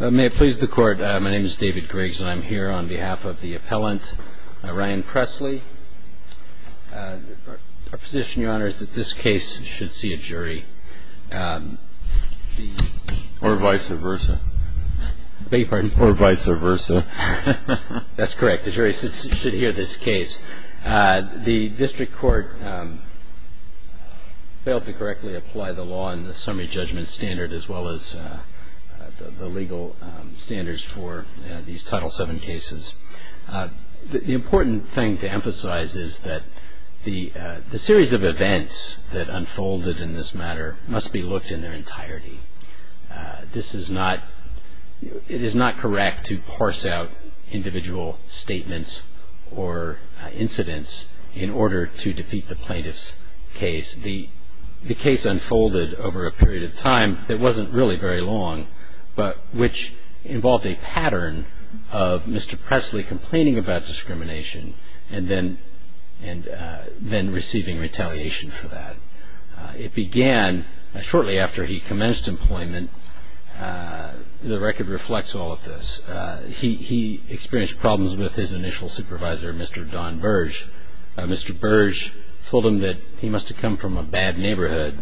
May it please the Court, my name is David Griggs and I'm here on behalf of the appellant, Ryan Presley. Our position, Your Honor, is that this case should see a jury. Or vice versa. Beg your pardon? Or vice versa. That's correct. The jury should hear this case. The District Court failed to correctly apply the law in the summary judgment standard as well as the legal standards for these Title VII cases. The important thing to emphasize is that the series of events that unfolded in this matter must be looked in their entirety. It is not correct to parse out individual statements or incidents in order to defeat the plaintiff's case. The case unfolded over a period of time that wasn't really very long, but which involved a pattern of Mr. Presley complaining about discrimination and then receiving retaliation for that. It began shortly after he commenced employment. The record reflects all of this. He experienced problems with his initial supervisor, Mr. Don Burge. Mr. Burge told him that he must have come from a bad neighborhood.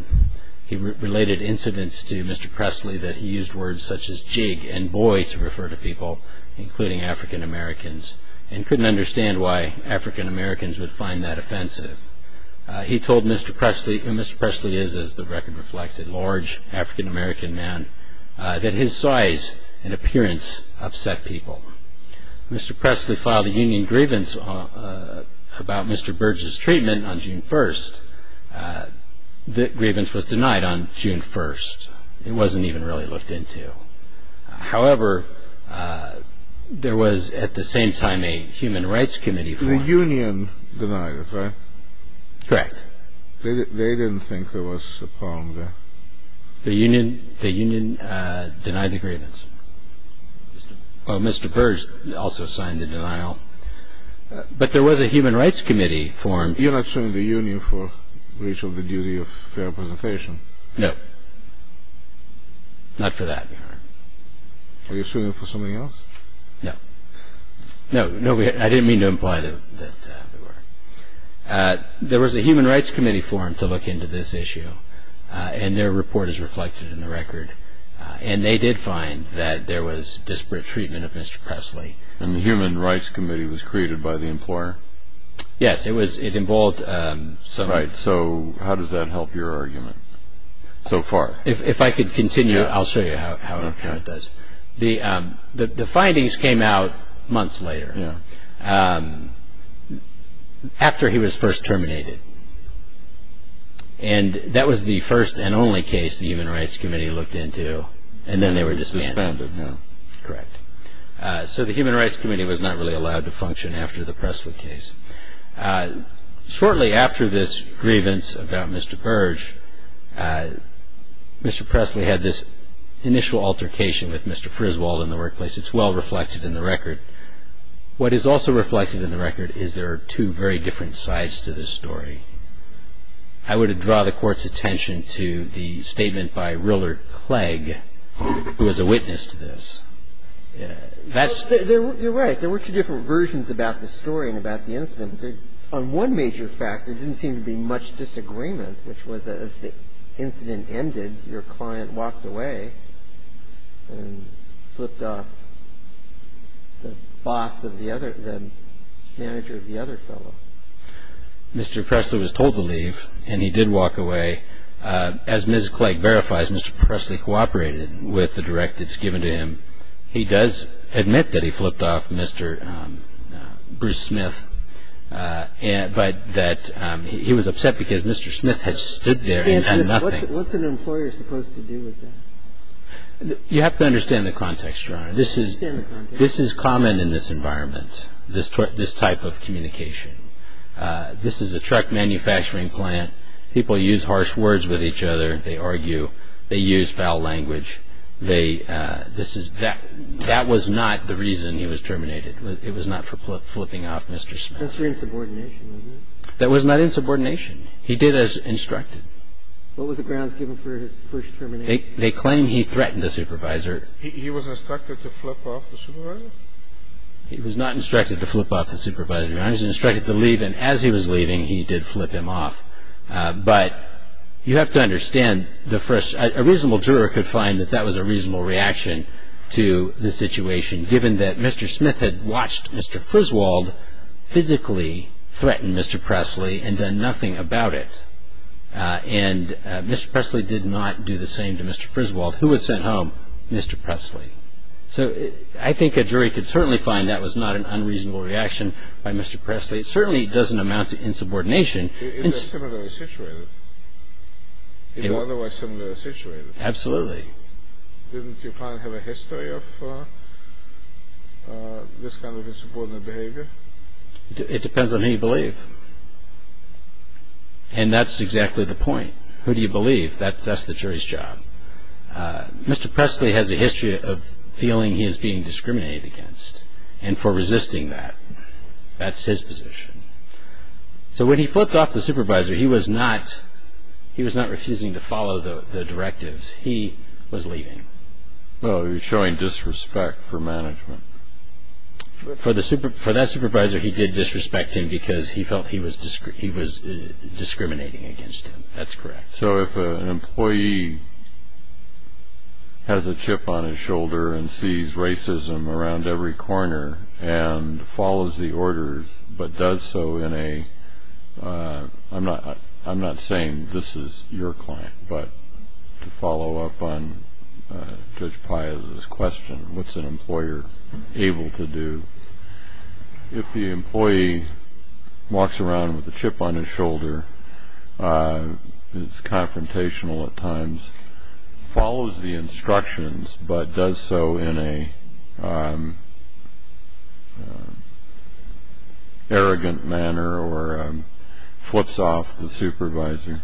He related incidents to Mr. Presley that he used words such as jig and boy to refer to people, including African Americans, and couldn't understand why African Americans would find that offensive. He told Mr. Presley, and Mr. Presley is, as the record reflects, a large African American man, that his size and appearance upset people. Mr. Presley filed a union grievance about Mr. Burge's treatment on June 1st. That grievance was denied on June 1st. It wasn't even really looked into. However, there was at the same time a Human Rights Committee formed. The union denied it, right? Correct. They didn't think there was a problem there? The union denied the grievance. Mr. Burge also signed the denial. But there was a Human Rights Committee formed. You're not suing the union for breach of the duty of fair representation? No. Not for that. Are you suing them for something else? No. No, I didn't mean to imply that they were. There was a Human Rights Committee formed to look into this issue, and their report is reflected in the record. And they did find that there was disparate treatment of Mr. Presley. And the Human Rights Committee was created by the employer? Yes. It involved some... Right. So how does that help your argument so far? If I could continue, I'll show you how it does. The findings came out months later, after he was first terminated. And that was the first and only case the Human Rights Committee looked into, and then they were disbanded. Disbanded, yeah. Correct. So the Human Rights Committee was not really allowed to function after the Presley case. Shortly after this grievance about Mr. Burge, Mr. Presley had this initial altercation with Mr. Friswald in the workplace. It's well reflected in the record. What is also reflected in the record is there are two very different sides to this story. I would draw the Court's attention to the statement by Rillard Clegg, who was a witness to this. That's... You're right. There were two different versions about the story and about the incident. On one major fact, there didn't seem to be much disagreement, which was that as the incident ended, your client walked away and flipped off the boss of the other, the manager of the other fellow. Mr. Presley was told to leave, and he did walk away. As Ms. Clegg verifies, Mr. Presley cooperated with the directives given to him. He does admit that he flipped off Mr. Bruce Smith, but that he was upset because Mr. Smith had stood there and done nothing. What's an employer supposed to do with that? You have to understand the context, Your Honor. I understand the context. This is common in this environment, this type of communication. This is a truck manufacturing plant. People use harsh words with each other. They argue. They use foul language. That was not the reason he was terminated. It was not for flipping off Mr. Smith. That's for insubordination, wasn't it? That was not insubordination. He did as instructed. What was the grounds given for his first termination? They claim he threatened the supervisor. He was instructed to flip off the supervisor? He was not instructed to flip off the supervisor, Your Honor. He was instructed to leave, and as he was leaving, he did flip him off. But you have to understand, a reasonable juror could find that that was a reasonable reaction to the situation, given that Mr. Smith had watched Mr. Friswald physically threaten Mr. Presley and done nothing about it. And Mr. Presley did not do the same to Mr. Friswald, who was sent home, Mr. Presley. So I think a jury could certainly find that was not an unreasonable reaction by Mr. Presley. It certainly doesn't amount to insubordination. It's a similar situation. It's an otherwise similar situation. Absolutely. Doesn't your client have a history of this kind of insubordinate behavior? It depends on who you believe, and that's exactly the point. Who do you believe? That's the jury's job. Mr. Presley has a history of feeling he is being discriminated against, and for resisting that. That's his position. So when he flipped off the supervisor, he was not refusing to follow the directives. He was leaving. He was showing disrespect for management. For that supervisor, he did disrespect him because he felt he was discriminating against him. That's correct. So if an employee has a chip on his shoulder and sees racism around every corner and follows the orders but does so in a – I'm not saying this is your client, but to follow up on Judge Piazza's question, what's an employer able to do? If the employee walks around with a chip on his shoulder, is confrontational at times, follows the instructions but does so in an arrogant manner or flips off the supervisor,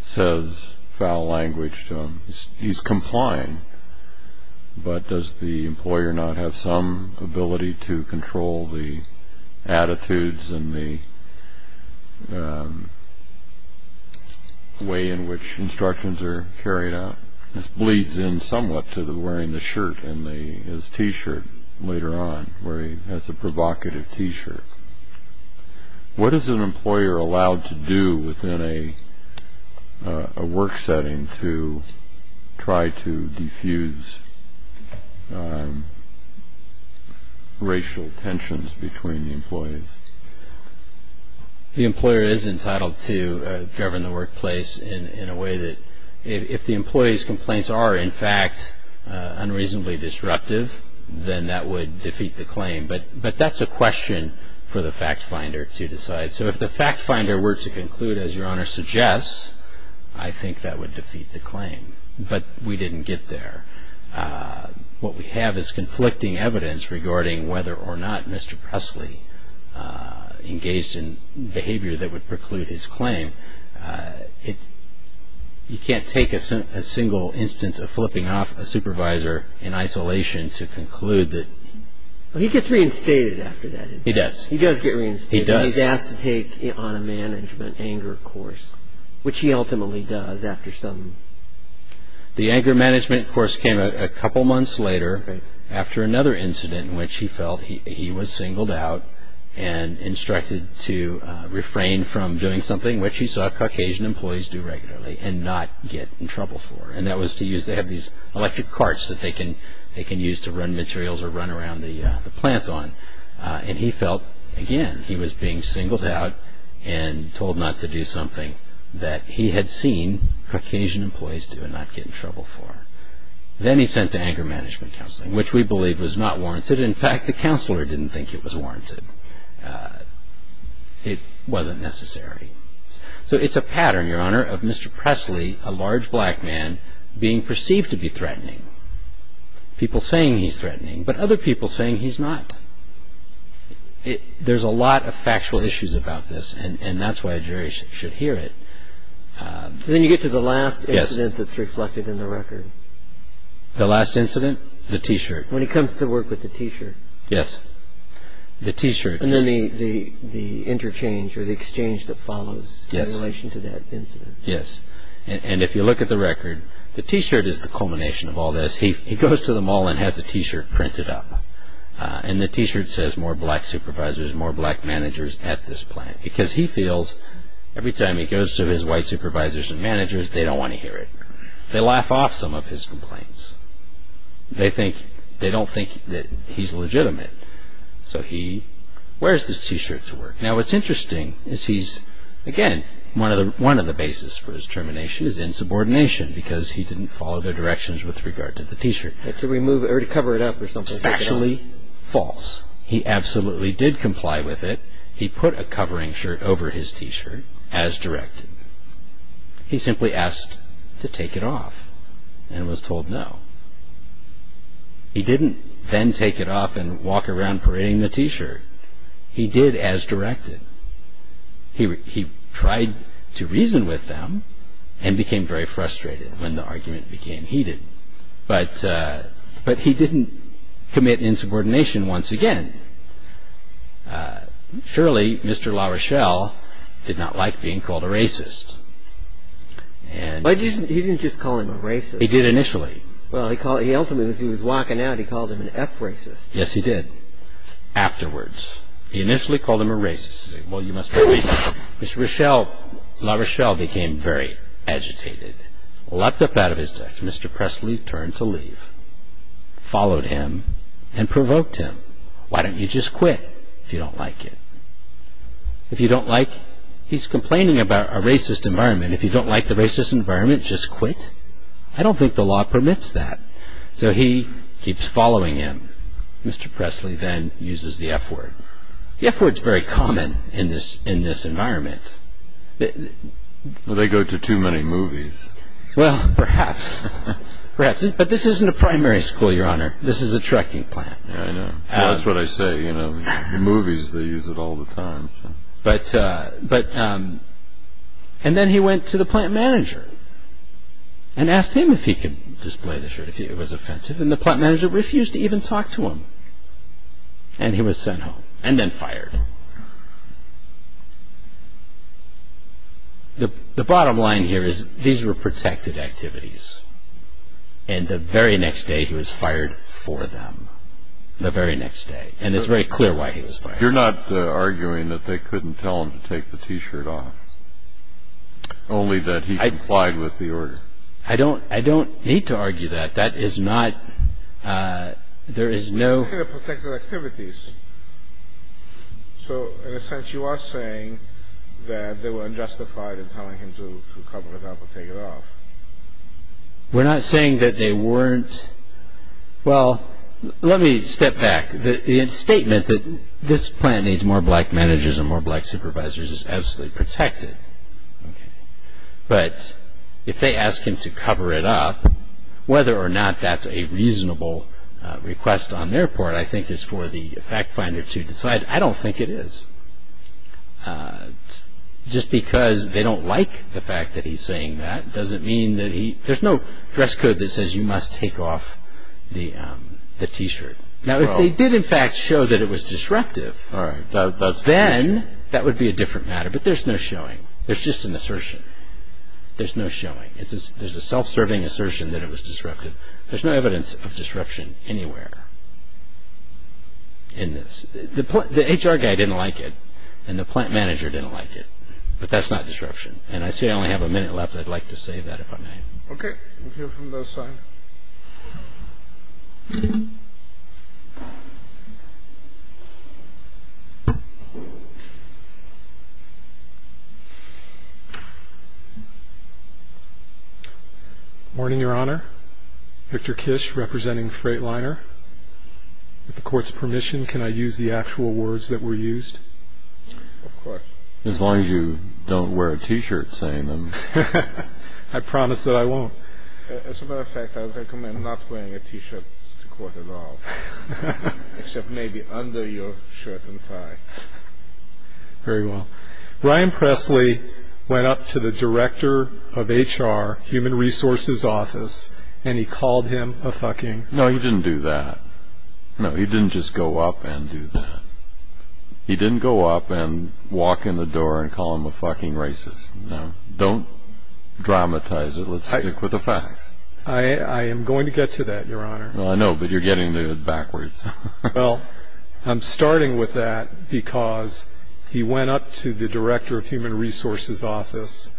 says foul language to him, he's complying. But does the employer not have some ability to control the attitudes and the way in which instructions are carried out? This bleeds in somewhat to wearing the shirt and his T-shirt later on, where he has a provocative T-shirt. What is an employer allowed to do within a work setting to try to defuse racial tensions between the employees? The employer is entitled to govern the workplace in a way that if the employee's complaints are, in fact, unreasonably disruptive, then that would defeat the claim. But that's a question for the fact finder to decide. So if the fact finder were to conclude, as Your Honor suggests, I think that would defeat the claim. But we didn't get there. What we have is conflicting evidence regarding whether or not Mr. Presley engaged in behavior that would preclude his claim. You can't take a single instance of flipping off a supervisor in isolation to conclude that – He gets reinstated after that. He does. He does get reinstated. He does. He's asked to take on a management anger course, which he ultimately does after some – The anger management course came a couple months later after another incident in which he felt he was singled out and instructed to refrain from doing something which he saw Caucasian employees do regularly and not get in trouble for. And that was to use – they have these electric carts that they can use to run materials or run around the plant on. And he felt, again, he was being singled out and told not to do something that he had seen Caucasian employees do and not get in trouble for. Then he's sent to anger management counseling, which we believe was not warranted. In fact, the counselor didn't think it was warranted. It wasn't necessary. So it's a pattern, Your Honor, of Mr. Presley, a large black man, being perceived to be threatening. People saying he's threatening, but other people saying he's not. There's a lot of factual issues about this, and that's why a jury should hear it. Then you get to the last incident that's reflected in the record. The last incident? The T-shirt. When he comes to work with the T-shirt. Yes. The T-shirt. And then the interchange or the exchange that follows in relation to that incident. Yes. And if you look at the record, the T-shirt is the culmination of all this. He goes to the mall and has a T-shirt printed up. And the T-shirt says, More black supervisors, more black managers at this plant. Because he feels every time he goes to his white supervisors and managers, they don't want to hear it. They laugh off some of his complaints. They don't think that he's legitimate. So he wears this T-shirt to work. Now what's interesting is he's, again, one of the basis for his termination is insubordination because he didn't follow the directions with regard to the T-shirt. To cover it up or something. Factually false. He absolutely did comply with it. He put a covering shirt over his T-shirt as directed. He simply asked to take it off and was told no. He didn't then take it off and walk around parading the T-shirt. He did as directed. He tried to reason with them and became very frustrated when the argument became heated. But he didn't commit insubordination once again. Surely Mr. LaRochelle did not like being called a racist. He didn't just call him a racist. He did initially. Well, he ultimately, as he was walking out, he called him an eff-racist. Yes, he did. Afterwards, he initially called him a racist. Well, you must be a racist. Mr. LaRochelle became very agitated. Leapt up out of his desk, Mr. Presley turned to leave. Followed him and provoked him. Why don't you just quit if you don't like it? He's complaining about a racist environment. If you don't like the racist environment, just quit? I don't think the law permits that. So he keeps following him. Mr. Presley then uses the F-word. The F-word is very common in this environment. Do they go to too many movies? Well, perhaps. But this isn't a primary school, Your Honor. This is a trucking plant. I know. That's what I say. In movies, they use it all the time. And then he went to the plant manager and asked him if he could display the shirt, if it was offensive. And the plant manager refused to even talk to him. And he was sent home. And then fired. The bottom line here is these were protected activities. And the very next day, he was fired for them. The very next day. And it's very clear why he was fired. You're not arguing that they couldn't tell him to take the T-shirt off, only that he complied with the order. I don't need to argue that. That is not – there is no – They were protected activities. So, in a sense, you are saying that they were unjustified in telling him to cover it up or take it off. We're not saying that they weren't – well, let me step back. The statement that this plant needs more black managers and more black supervisors is absolutely protected. But if they ask him to cover it up, whether or not that's a reasonable request on their part, I think, is for the fact finder to decide. I don't think it is. Just because they don't like the fact that he's saying that doesn't mean that he – there's no dress code that says you must take off the T-shirt. Now, if they did, in fact, show that it was disruptive, then that would be a different matter. But there's no showing. There's just an assertion. There's no showing. There's a self-serving assertion that it was disruptive. There's no evidence of disruption anywhere in this. The HR guy didn't like it, and the plant manager didn't like it. But that's not disruption. And I see I only have a minute left. I'd like to save that if I may. Okay. We'll hear from this side. Morning, Your Honor. Victor Kish, representing Freightliner. With the Court's permission, can I use the actual words that were used? Of course. As long as you don't wear a T-shirt saying them. I promise that I won't. As a matter of fact, I recommend not wearing a T-shirt to court at all, except maybe under your shirt and tie. Very well. Ryan Presley went up to the director of HR, Human Resources Office, and he called him a fucking – No, he didn't do that. No, he didn't just go up and do that. He didn't go up and walk in the door and call him a fucking racist. No. Don't dramatize it. Let's stick with the facts. I am going to get to that, Your Honor. Well, I know, but you're getting to it backwards. Well, I'm starting with that because he went up to the director of Human Resources Office,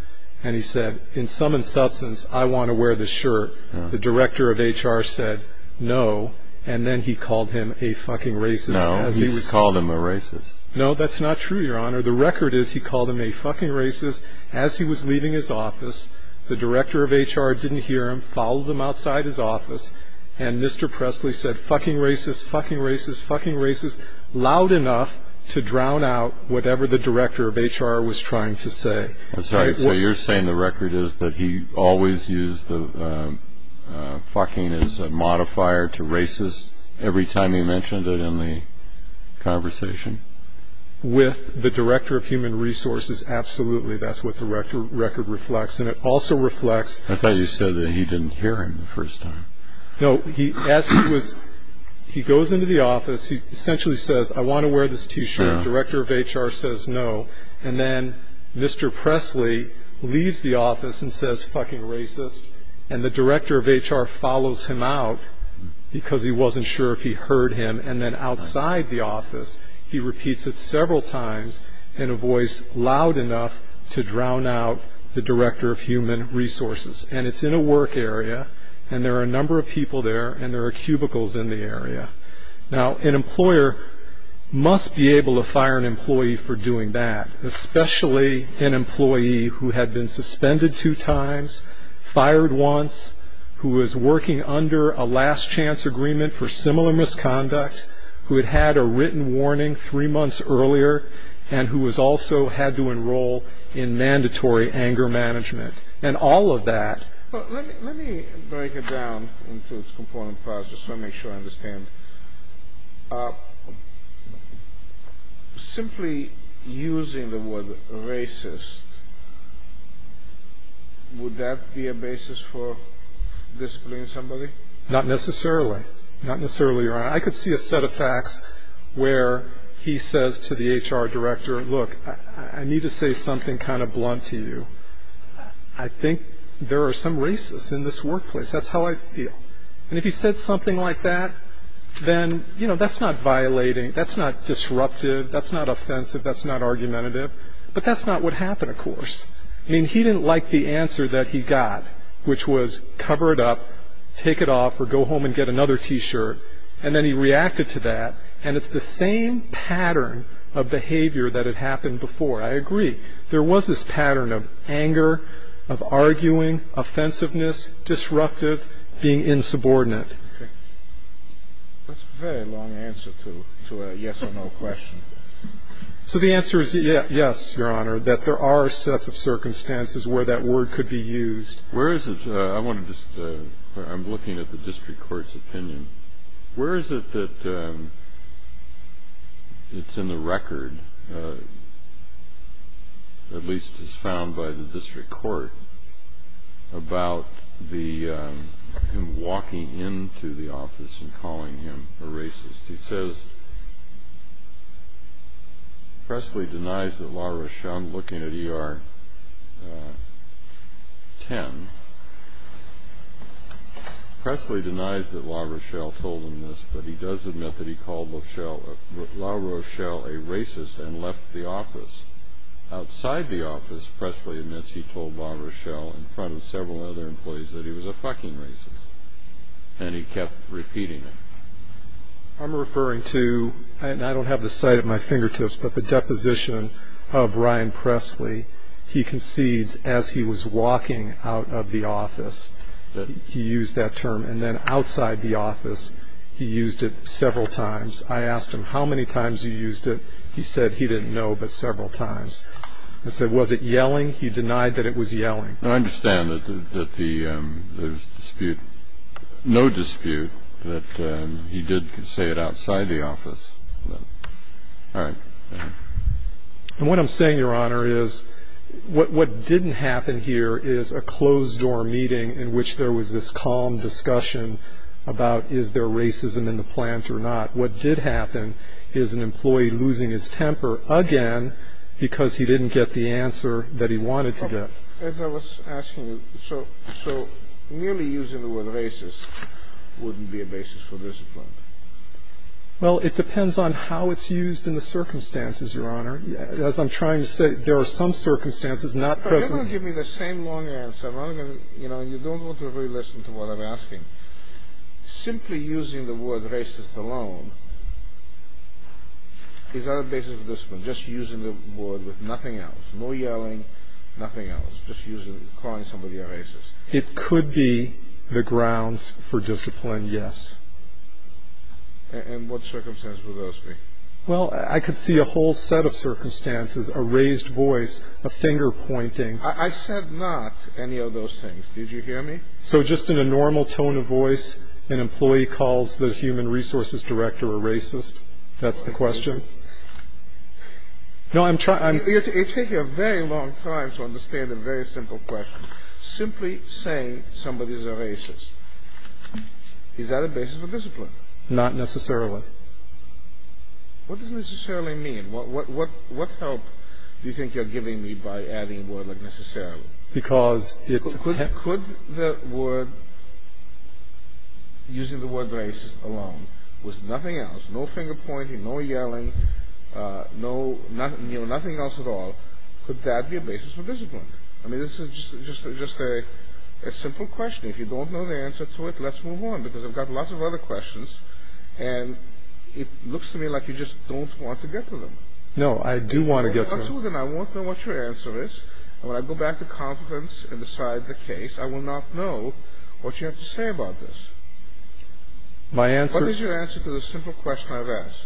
and he said, in some insubstance, I want to wear this shirt. The director of HR said no, and then he called him a fucking racist. No, he called him a racist. No, that's not true, Your Honor. The record is he called him a fucking racist as he was leaving his office. The director of HR didn't hear him, followed him outside his office, and Mr. Presley said fucking racist, fucking racist, fucking racist, loud enough to drown out whatever the director of HR was trying to say. That's right. So you're saying the record is that he always used the fucking as a modifier to racist every time he mentioned it in the conversation? With the director of Human Resources, absolutely. That's what the record reflects, and it also reflects. I thought you said that he didn't hear him the first time. No, he goes into the office. He essentially says, I want to wear this T-shirt. The director of HR says no, and then Mr. Presley leaves the office and says fucking racist, and the director of HR follows him out because he wasn't sure if he heard him, and then outside the office he repeats it several times in a voice loud enough to drown out the director of Human Resources, and it's in a work area, and there are a number of people there, and there are cubicles in the area. Now, an employer must be able to fire an employee for doing that, especially an employee who had been suspended two times, fired once, who was working under a last-chance agreement for similar misconduct, who had had a written warning three months earlier, and who also had to enroll in mandatory anger management, and all of that. Let me break it down into its component parts just to make sure I understand. Simply using the word racist, would that be a basis for disciplining somebody? Not necessarily. Not necessarily, Your Honor. I could see a set of facts where he says to the HR director, look, I need to say something kind of blunt to you. I think there are some racists in this workplace. That's how I feel. And if he said something like that, then, you know, that's not violating, that's not disruptive, that's not offensive, that's not argumentative, but that's not what happened, of course. I mean, he didn't like the answer that he got, which was cover it up, take it off, or go home and get another T-shirt, and then he reacted to that, and it's the same pattern of behavior that had happened before. I agree. There was this pattern of anger, of arguing, offensiveness, disruptive, being insubordinate. Okay. That's a very long answer to a yes or no question. So the answer is yes, Your Honor, that there are sets of circumstances where that word could be used. Where is it? I want to just, I'm looking at the district court's opinion. Where is it that it's in the record, at least as found by the district court, about him walking into the office and calling him a racist? It says, Presley denies that La Rochelle, I'm looking at ER 10, Presley denies that La Rochelle told him this, but he does admit that he called La Rochelle a racist and left the office. Outside the office, Presley admits he told La Rochelle, in front of several other employees, that he was a fucking racist, and he kept repeating it. I'm referring to, and I don't have the sight at my fingertips, but the deposition of Ryan Presley. Presley, he concedes as he was walking out of the office that he used that term, and then outside the office he used it several times. I asked him how many times he used it. He said he didn't know, but several times. I said, was it yelling? He denied that it was yelling. I understand that there's no dispute that he did say it outside the office. All right. And what I'm saying, Your Honor, is what didn't happen here is a closed-door meeting in which there was this calm discussion about is there racism in the plant or not. What did happen is an employee losing his temper again because he didn't get the answer that he wanted to get. As I was asking you, so merely using the word racist wouldn't be a basis for discipline? Well, it depends on how it's used in the circumstances, Your Honor. As I'm trying to say, there are some circumstances not present. You don't give me the same long answer. You don't want to really listen to what I'm asking. Simply using the word racist alone is not a basis for discipline, just using the word with nothing else, no yelling, nothing else, just calling somebody a racist. It could be the grounds for discipline, yes. And what circumstances would those be? Well, I could see a whole set of circumstances, a raised voice, a finger pointing. I said not any of those things. Did you hear me? So just in a normal tone of voice, an employee calls the human resources director a racist? That's the question? No, I'm trying to... You're taking a very long time to understand a very simple question. Simply saying somebody is a racist, is that a basis for discipline? Not necessarily. What does necessarily mean? What help do you think you're giving me by adding the word necessarily? Because it... Could the word, using the word racist alone with nothing else, no finger pointing, no yelling, nothing else at all, could that be a basis for discipline? I mean, this is just a simple question. If you don't know the answer to it, let's move on, because I've got lots of other questions, and it looks to me like you just don't want to get to them. No, I do want to get to them. If you don't want to get to them, I won't know what your answer is, and when I go back to confidence and decide the case, I will not know what you have to say about this. My answer... What is your answer to the simple question I've asked?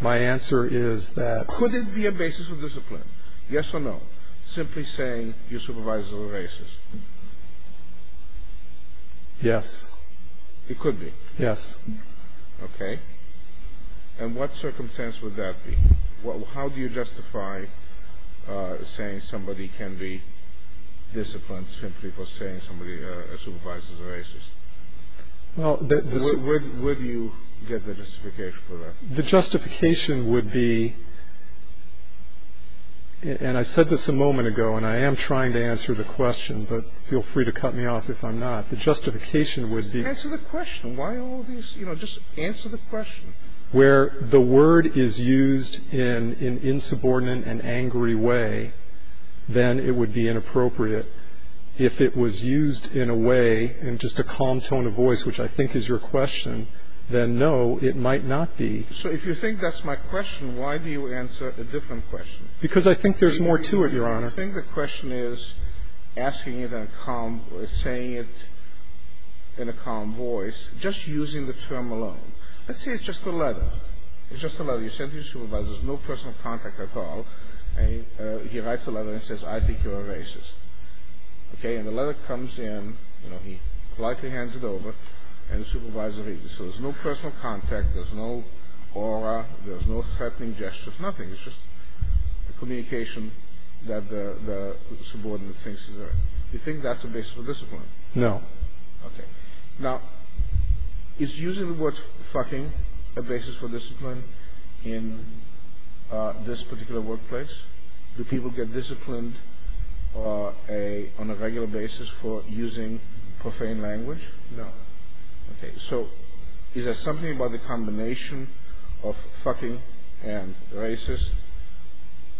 My answer is that... Could it be a basis for discipline, yes or no? Simply saying your supervisor is a racist. Yes. It could be? Yes. Okay. And what circumstance would that be? How do you justify saying somebody can be disciplined simply for saying somebody supervises a racist? Where do you get the justification for that? The justification would be... And I said this a moment ago, and I am trying to answer the question, but feel free to cut me off if I'm not. The justification would be... Answer the question. Why all these... You know, just answer the question. Where the word is used in an insubordinate and angry way, then it would be inappropriate. If it was used in a way, in just a calm tone of voice, which I think is your question, then no, it might not be. So if you think that's my question, why do you answer a different question? Because I think there's more to it, Your Honor. I think the question is asking it in a calm... saying it in a calm voice, just using the term alone. Let's say it's just a letter. It's just a letter. You send it to your supervisor. There's no personal contact at all. He writes a letter and says, I think you're a racist. Okay? And the letter comes in, you know, he politely hands it over, and the supervisor reads it. So there's no personal contact, there's no aura, there's no threatening gestures, nothing. It's just a communication that the subordinate thinks is right. Do you think that's a basis for discipline? No. Okay. Now, is using the word fucking a basis for discipline in this particular workplace? Do people get disciplined on a regular basis for using profane language? No. Okay. So is there something about the combination of fucking and racist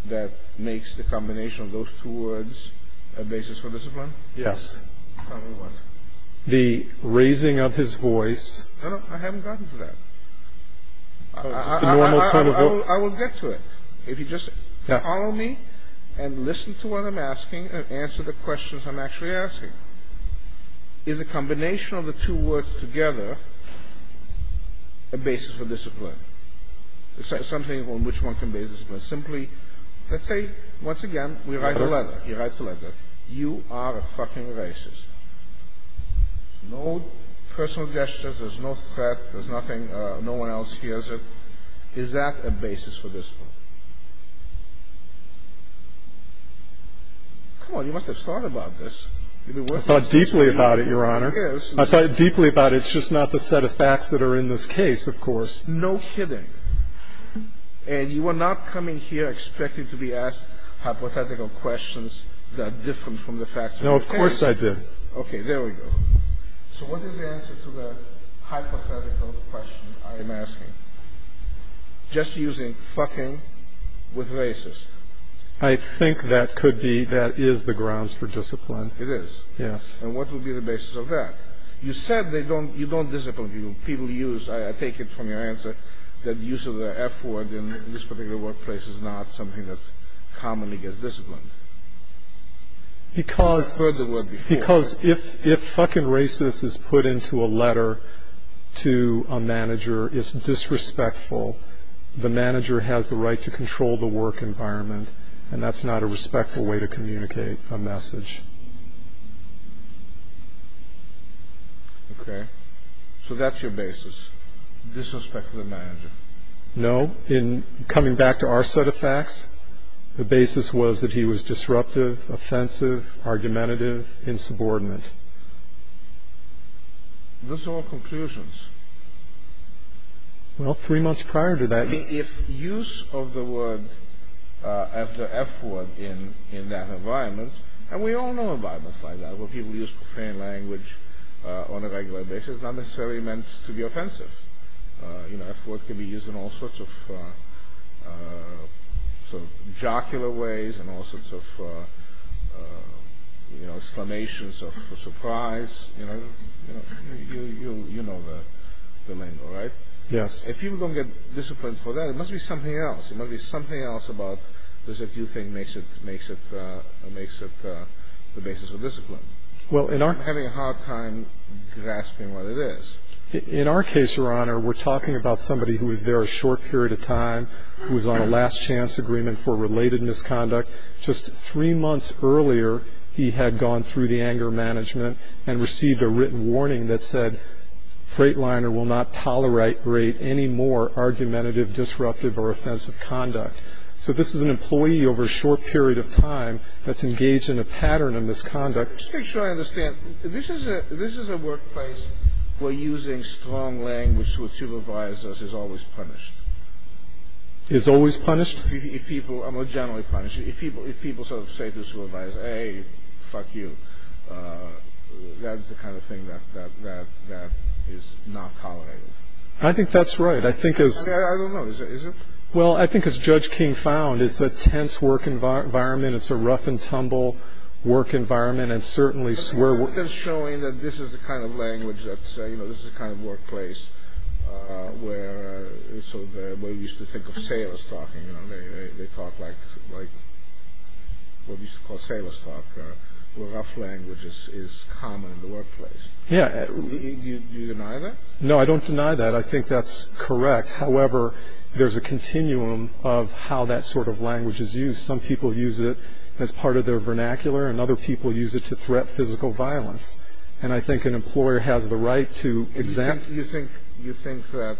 that makes the combination of those two words a basis for discipline? Yes. Tell me what. The raising of his voice. No, no, I haven't gotten to that. I will get to it. If you just follow me and listen to what I'm asking and answer the questions I'm actually asking. Is the combination of the two words together a basis for discipline? Is there something on which one can be a discipline? Simply, let's say, once again, we write a letter. He writes a letter. You are a fucking racist. No personal gestures, there's no threat, there's nothing, no one else hears it. Is that a basis for discipline? Come on, you must have thought about this. I thought deeply about it, Your Honor. I thought deeply about it. It's just not the set of facts that are in this case, of course. No kidding. And you are not coming here expecting to be asked hypothetical questions that are different from the facts. No, of course I did. Okay, there we go. So what is the answer to the hypothetical question I am asking? Just using fucking with racist. I think that could be, that is the grounds for discipline. It is. Yes. And what would be the basis of that? You said you don't discipline people. People use, I take it from your answer, that use of the F word in this particular workplace is not something that commonly gets disciplined. Because if fucking racist is put into a letter to a manager, it's disrespectful, the manager has the right to control the work environment, and that's not a respectful way to communicate a message. Okay. So that's your basis. Disrespect of the manager. No. In coming back to our set of facts, the basis was that he was disruptive, offensive, argumentative, insubordinate. Those are all conclusions. Well, three months prior to that... If use of the word after F word in that environment, and we all know environments like that where people use profane language on a regular basis, is not necessarily meant to be offensive. You know, F word can be used in all sorts of jocular ways and all sorts of exclamations of surprise. You know the lingo, right? Yes. If people don't get disciplined for that, it must be something else. It must be something else about this that you think makes it the basis of discipline. I'm having a hard time grasping what it is. In our case, Your Honor, we're talking about somebody who was there a short period of time, who was on a last chance agreement for related misconduct. Just three months earlier, he had gone through the anger management and received a written warning that said, Freightliner will not tolerate any more argumentative, disruptive, or offensive conduct. So this is an employee over a short period of time that's engaged in a pattern of misconduct. Just to make sure I understand, this is a workplace where using strong language with supervisors is always punished. Is always punished? More generally punished. If people sort of say to a supervisor, Hey, fuck you, that's the kind of thing that is not tolerated. I think that's right. I don't know. Is it? Well, I think as Judge King found, it's a tense work environment, it's a rough and tumble work environment, and certainly... But you're not showing that this is the kind of language that's, you know, this is the kind of workplace where we used to think of sailors talking, you know, they talk like what we used to call sailors talk, where rough language is common in the workplace. Yeah. Do you deny that? No, I don't deny that. I think that's correct. However, there's a continuum of how that sort of language is used. Some people use it as part of their vernacular, and other people use it to threat physical violence. And I think an employer has the right to exempt... You think that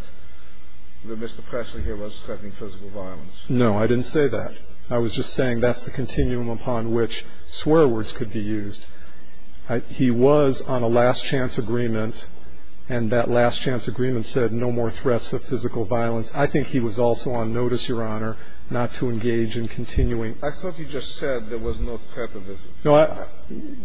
Mr. Presley here was threatening physical violence? No, I didn't say that. I was just saying that's the continuum upon which swear words could be used. He was on a last chance agreement, and that last chance agreement said no more threats of physical violence. I think he was also on notice, Your Honor, not to engage in continuing... I thought you just said there was no threat of physical violence.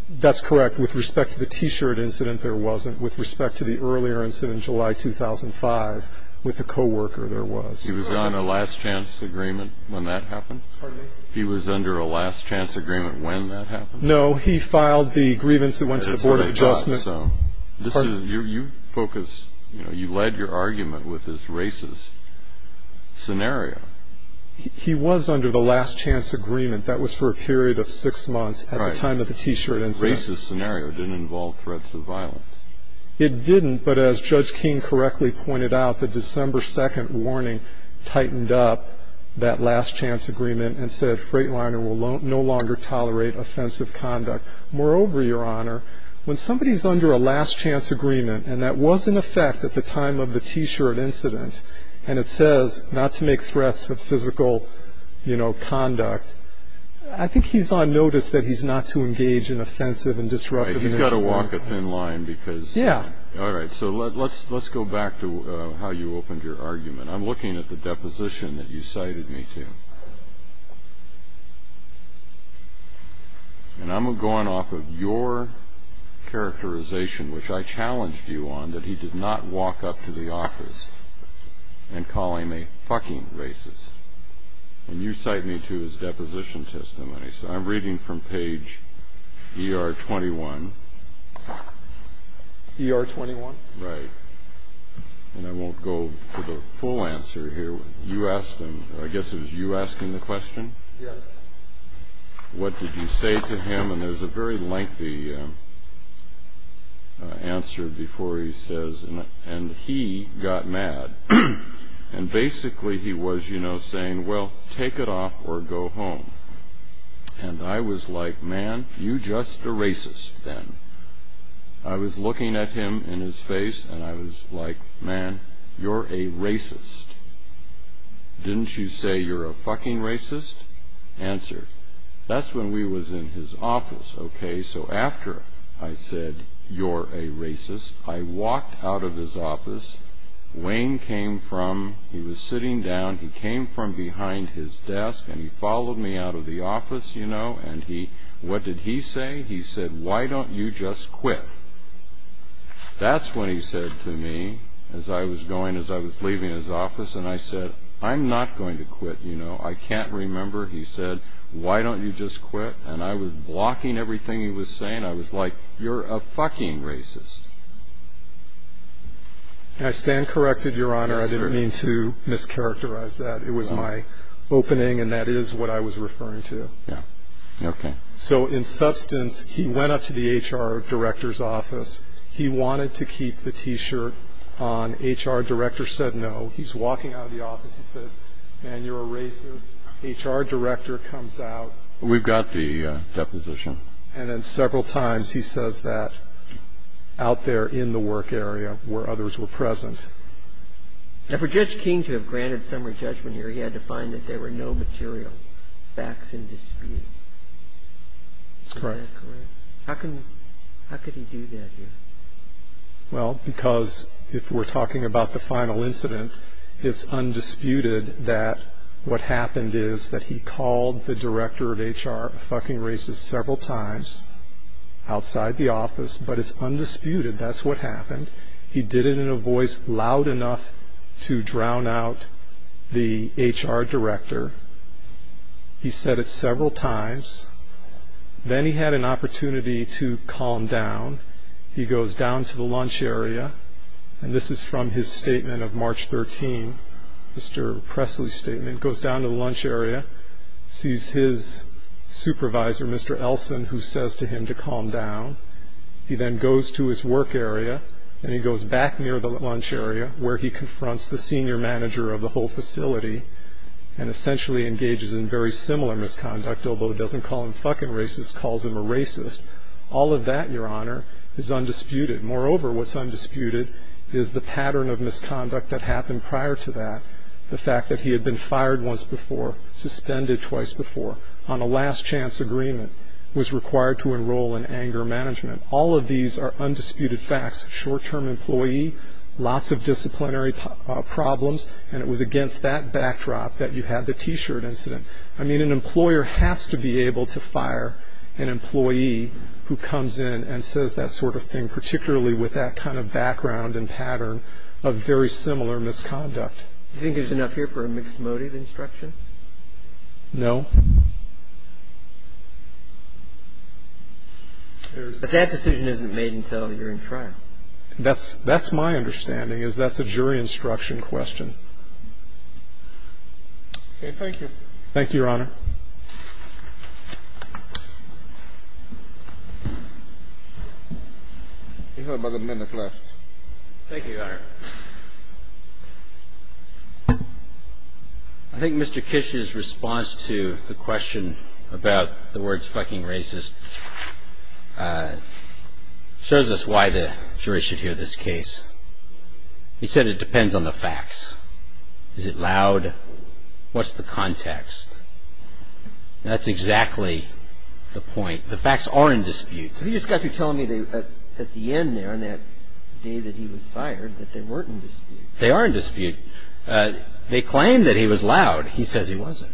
That's correct. With respect to the T-shirt incident, there wasn't. With respect to the earlier incident in July 2005 with the co-worker, there was. He was on a last chance agreement when that happened? Pardon me? He was under a last chance agreement when that happened? No, he filed the grievance that went to the Board of Adjustment. You focus, you know, you led your argument with this racist scenario. He was under the last chance agreement. That was for a period of six months at the time of the T-shirt incident. The racist scenario didn't involve threats of violence. It didn't, but as Judge King correctly pointed out, the December 2nd warning tightened up that last chance agreement and said Freightliner will no longer tolerate offensive conduct. Moreover, Your Honor, when somebody is under a last chance agreement, and that was in effect at the time of the T-shirt incident, and it says not to make threats of physical, you know, conduct, I think he's on notice that he's not to engage in offensive and disruptive... Right, he's got to walk a thin line because... Yeah. All right, so let's go back to how you opened your argument. I'm looking at the deposition that you cited me to. And I'm going off of your characterization, which I challenged you on, that he did not walk up to the office and call him a fucking racist. And you cite me to his deposition testimony. So I'm reading from page ER21. ER21? Right. And I won't go for the full answer here. I guess it was you asking the question? Yes. What did you say to him? And there's a very lengthy answer before he says, and he got mad. And basically he was, you know, saying, well, take it off or go home. And I was like, man, you just a racist then. I was looking at him in his face, and I was like, man, you're a racist. Didn't you say you're a fucking racist? Answer. That's when we was in his office, okay? So after I said, you're a racist, I walked out of his office. Wayne came from, he was sitting down, he came from behind his desk, and he followed me out of the office, you know, and he, what did he say? He said, why don't you just quit? That's when he said to me, as I was going, as I was leaving his office, and I said, I'm not going to quit, you know, I can't remember. He said, why don't you just quit? And I was blocking everything he was saying. I was like, you're a fucking racist. I stand corrected, Your Honor. I didn't mean to mischaracterize that. It was my opening, and that is what I was referring to. Yeah. Okay. So in substance, he went up to the HR director's office. He wanted to keep the T-shirt on. HR director said no. He's walking out of the office. He says, man, you're a racist. HR director comes out. We've got the deposition. And then several times he says that out there in the work area where others were present. Now, for Judge King to have granted summary judgment here, he had to find that there were no material facts in dispute. Is that correct? That's correct. How could he do that here? Well, because if we're talking about the final incident, it's undisputed that what happened is that he called the director of HR a fucking racist several times outside the office, but it's undisputed that's what happened. He did it in a voice loud enough to drown out the HR director. He said it several times. Then he had an opportunity to calm down. He goes down to the lunch area, and this is from his statement of March 13th, Mr. Presley's statement. He goes down to the lunch area, sees his supervisor, Mr. Elson, who says to him to calm down. He then goes to his work area, and he goes back near the lunch area where he confronts the senior manager of the whole facility and essentially engages in very similar misconduct, although it doesn't call him fucking racist, calls him a racist. All of that, Your Honor, is undisputed. Moreover, what's undisputed is the pattern of misconduct that happened prior to that, the fact that he had been fired once before, suspended twice before, on a last chance agreement, was required to enroll in anger management. All of these are undisputed facts. Short-term employee, lots of disciplinary problems, and it was against that backdrop that you had the T-shirt incident. I mean, an employer has to be able to fire an employee who comes in and says that sort of thing, particularly with that kind of background and pattern of very similar misconduct. Do you think there's enough here for a mixed motive instruction? No. But that decision isn't made until you're in trial. That's my understanding, is that's a jury instruction question. Okay, thank you. Thank you, Your Honor. You have about a minute left. Thank you, Your Honor. I think Mr. Kish's response to the question about the words fucking racist shows us why the jury should hear this case. He said it depends on the facts. Is it loud? What's the context? That's exactly the point. The facts are in dispute. He just got through telling me at the end there, on that day that he was fired, that they weren't in dispute. They are in dispute. They claim that he was loud. He says he wasn't.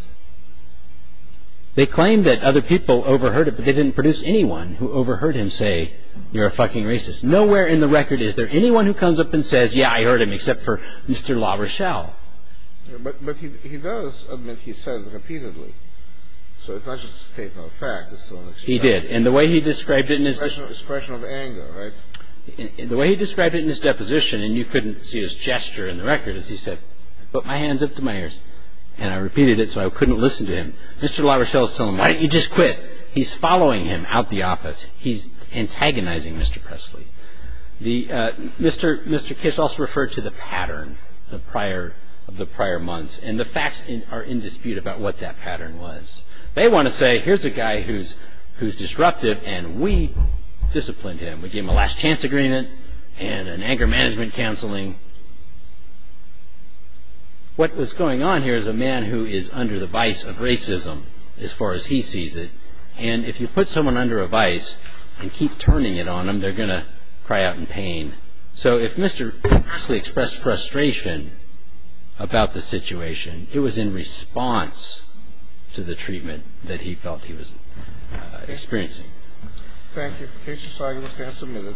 They claim that other people overheard it, but they didn't produce anyone who overheard him say, you're a fucking racist. Nowhere in the record is there anyone who comes up and says, yeah, I heard him, except for Mr. LaRochelle. But he does admit he said it repeatedly. So it's not just a statement of fact. He did. And the way he described it in his... Expression of anger, right? The way he described it in his deposition, and you couldn't see his gesture in the record as he said, put my hands up to my ears, and I repeated it so I couldn't listen to him. Mr. LaRochelle is telling him, why don't you just quit? He's following him out the office. He's antagonizing Mr. Presley. Mr. Kiss also referred to the pattern of the prior months, and the facts are in dispute about what that pattern was. They want to say, here's a guy who's disruptive, and we disciplined him. We gave him a last chance agreement and an anger management counseling. What was going on here is a man who is under the vice of racism as far as he sees it, and if you put someone under a vice and keep turning it on them, they're going to cry out in pain. So if Mr. Presley expressed frustration about the situation, it was in response to the treatment that he felt he was experiencing. Thank you. The case is signed. Mr. Hance, a minute.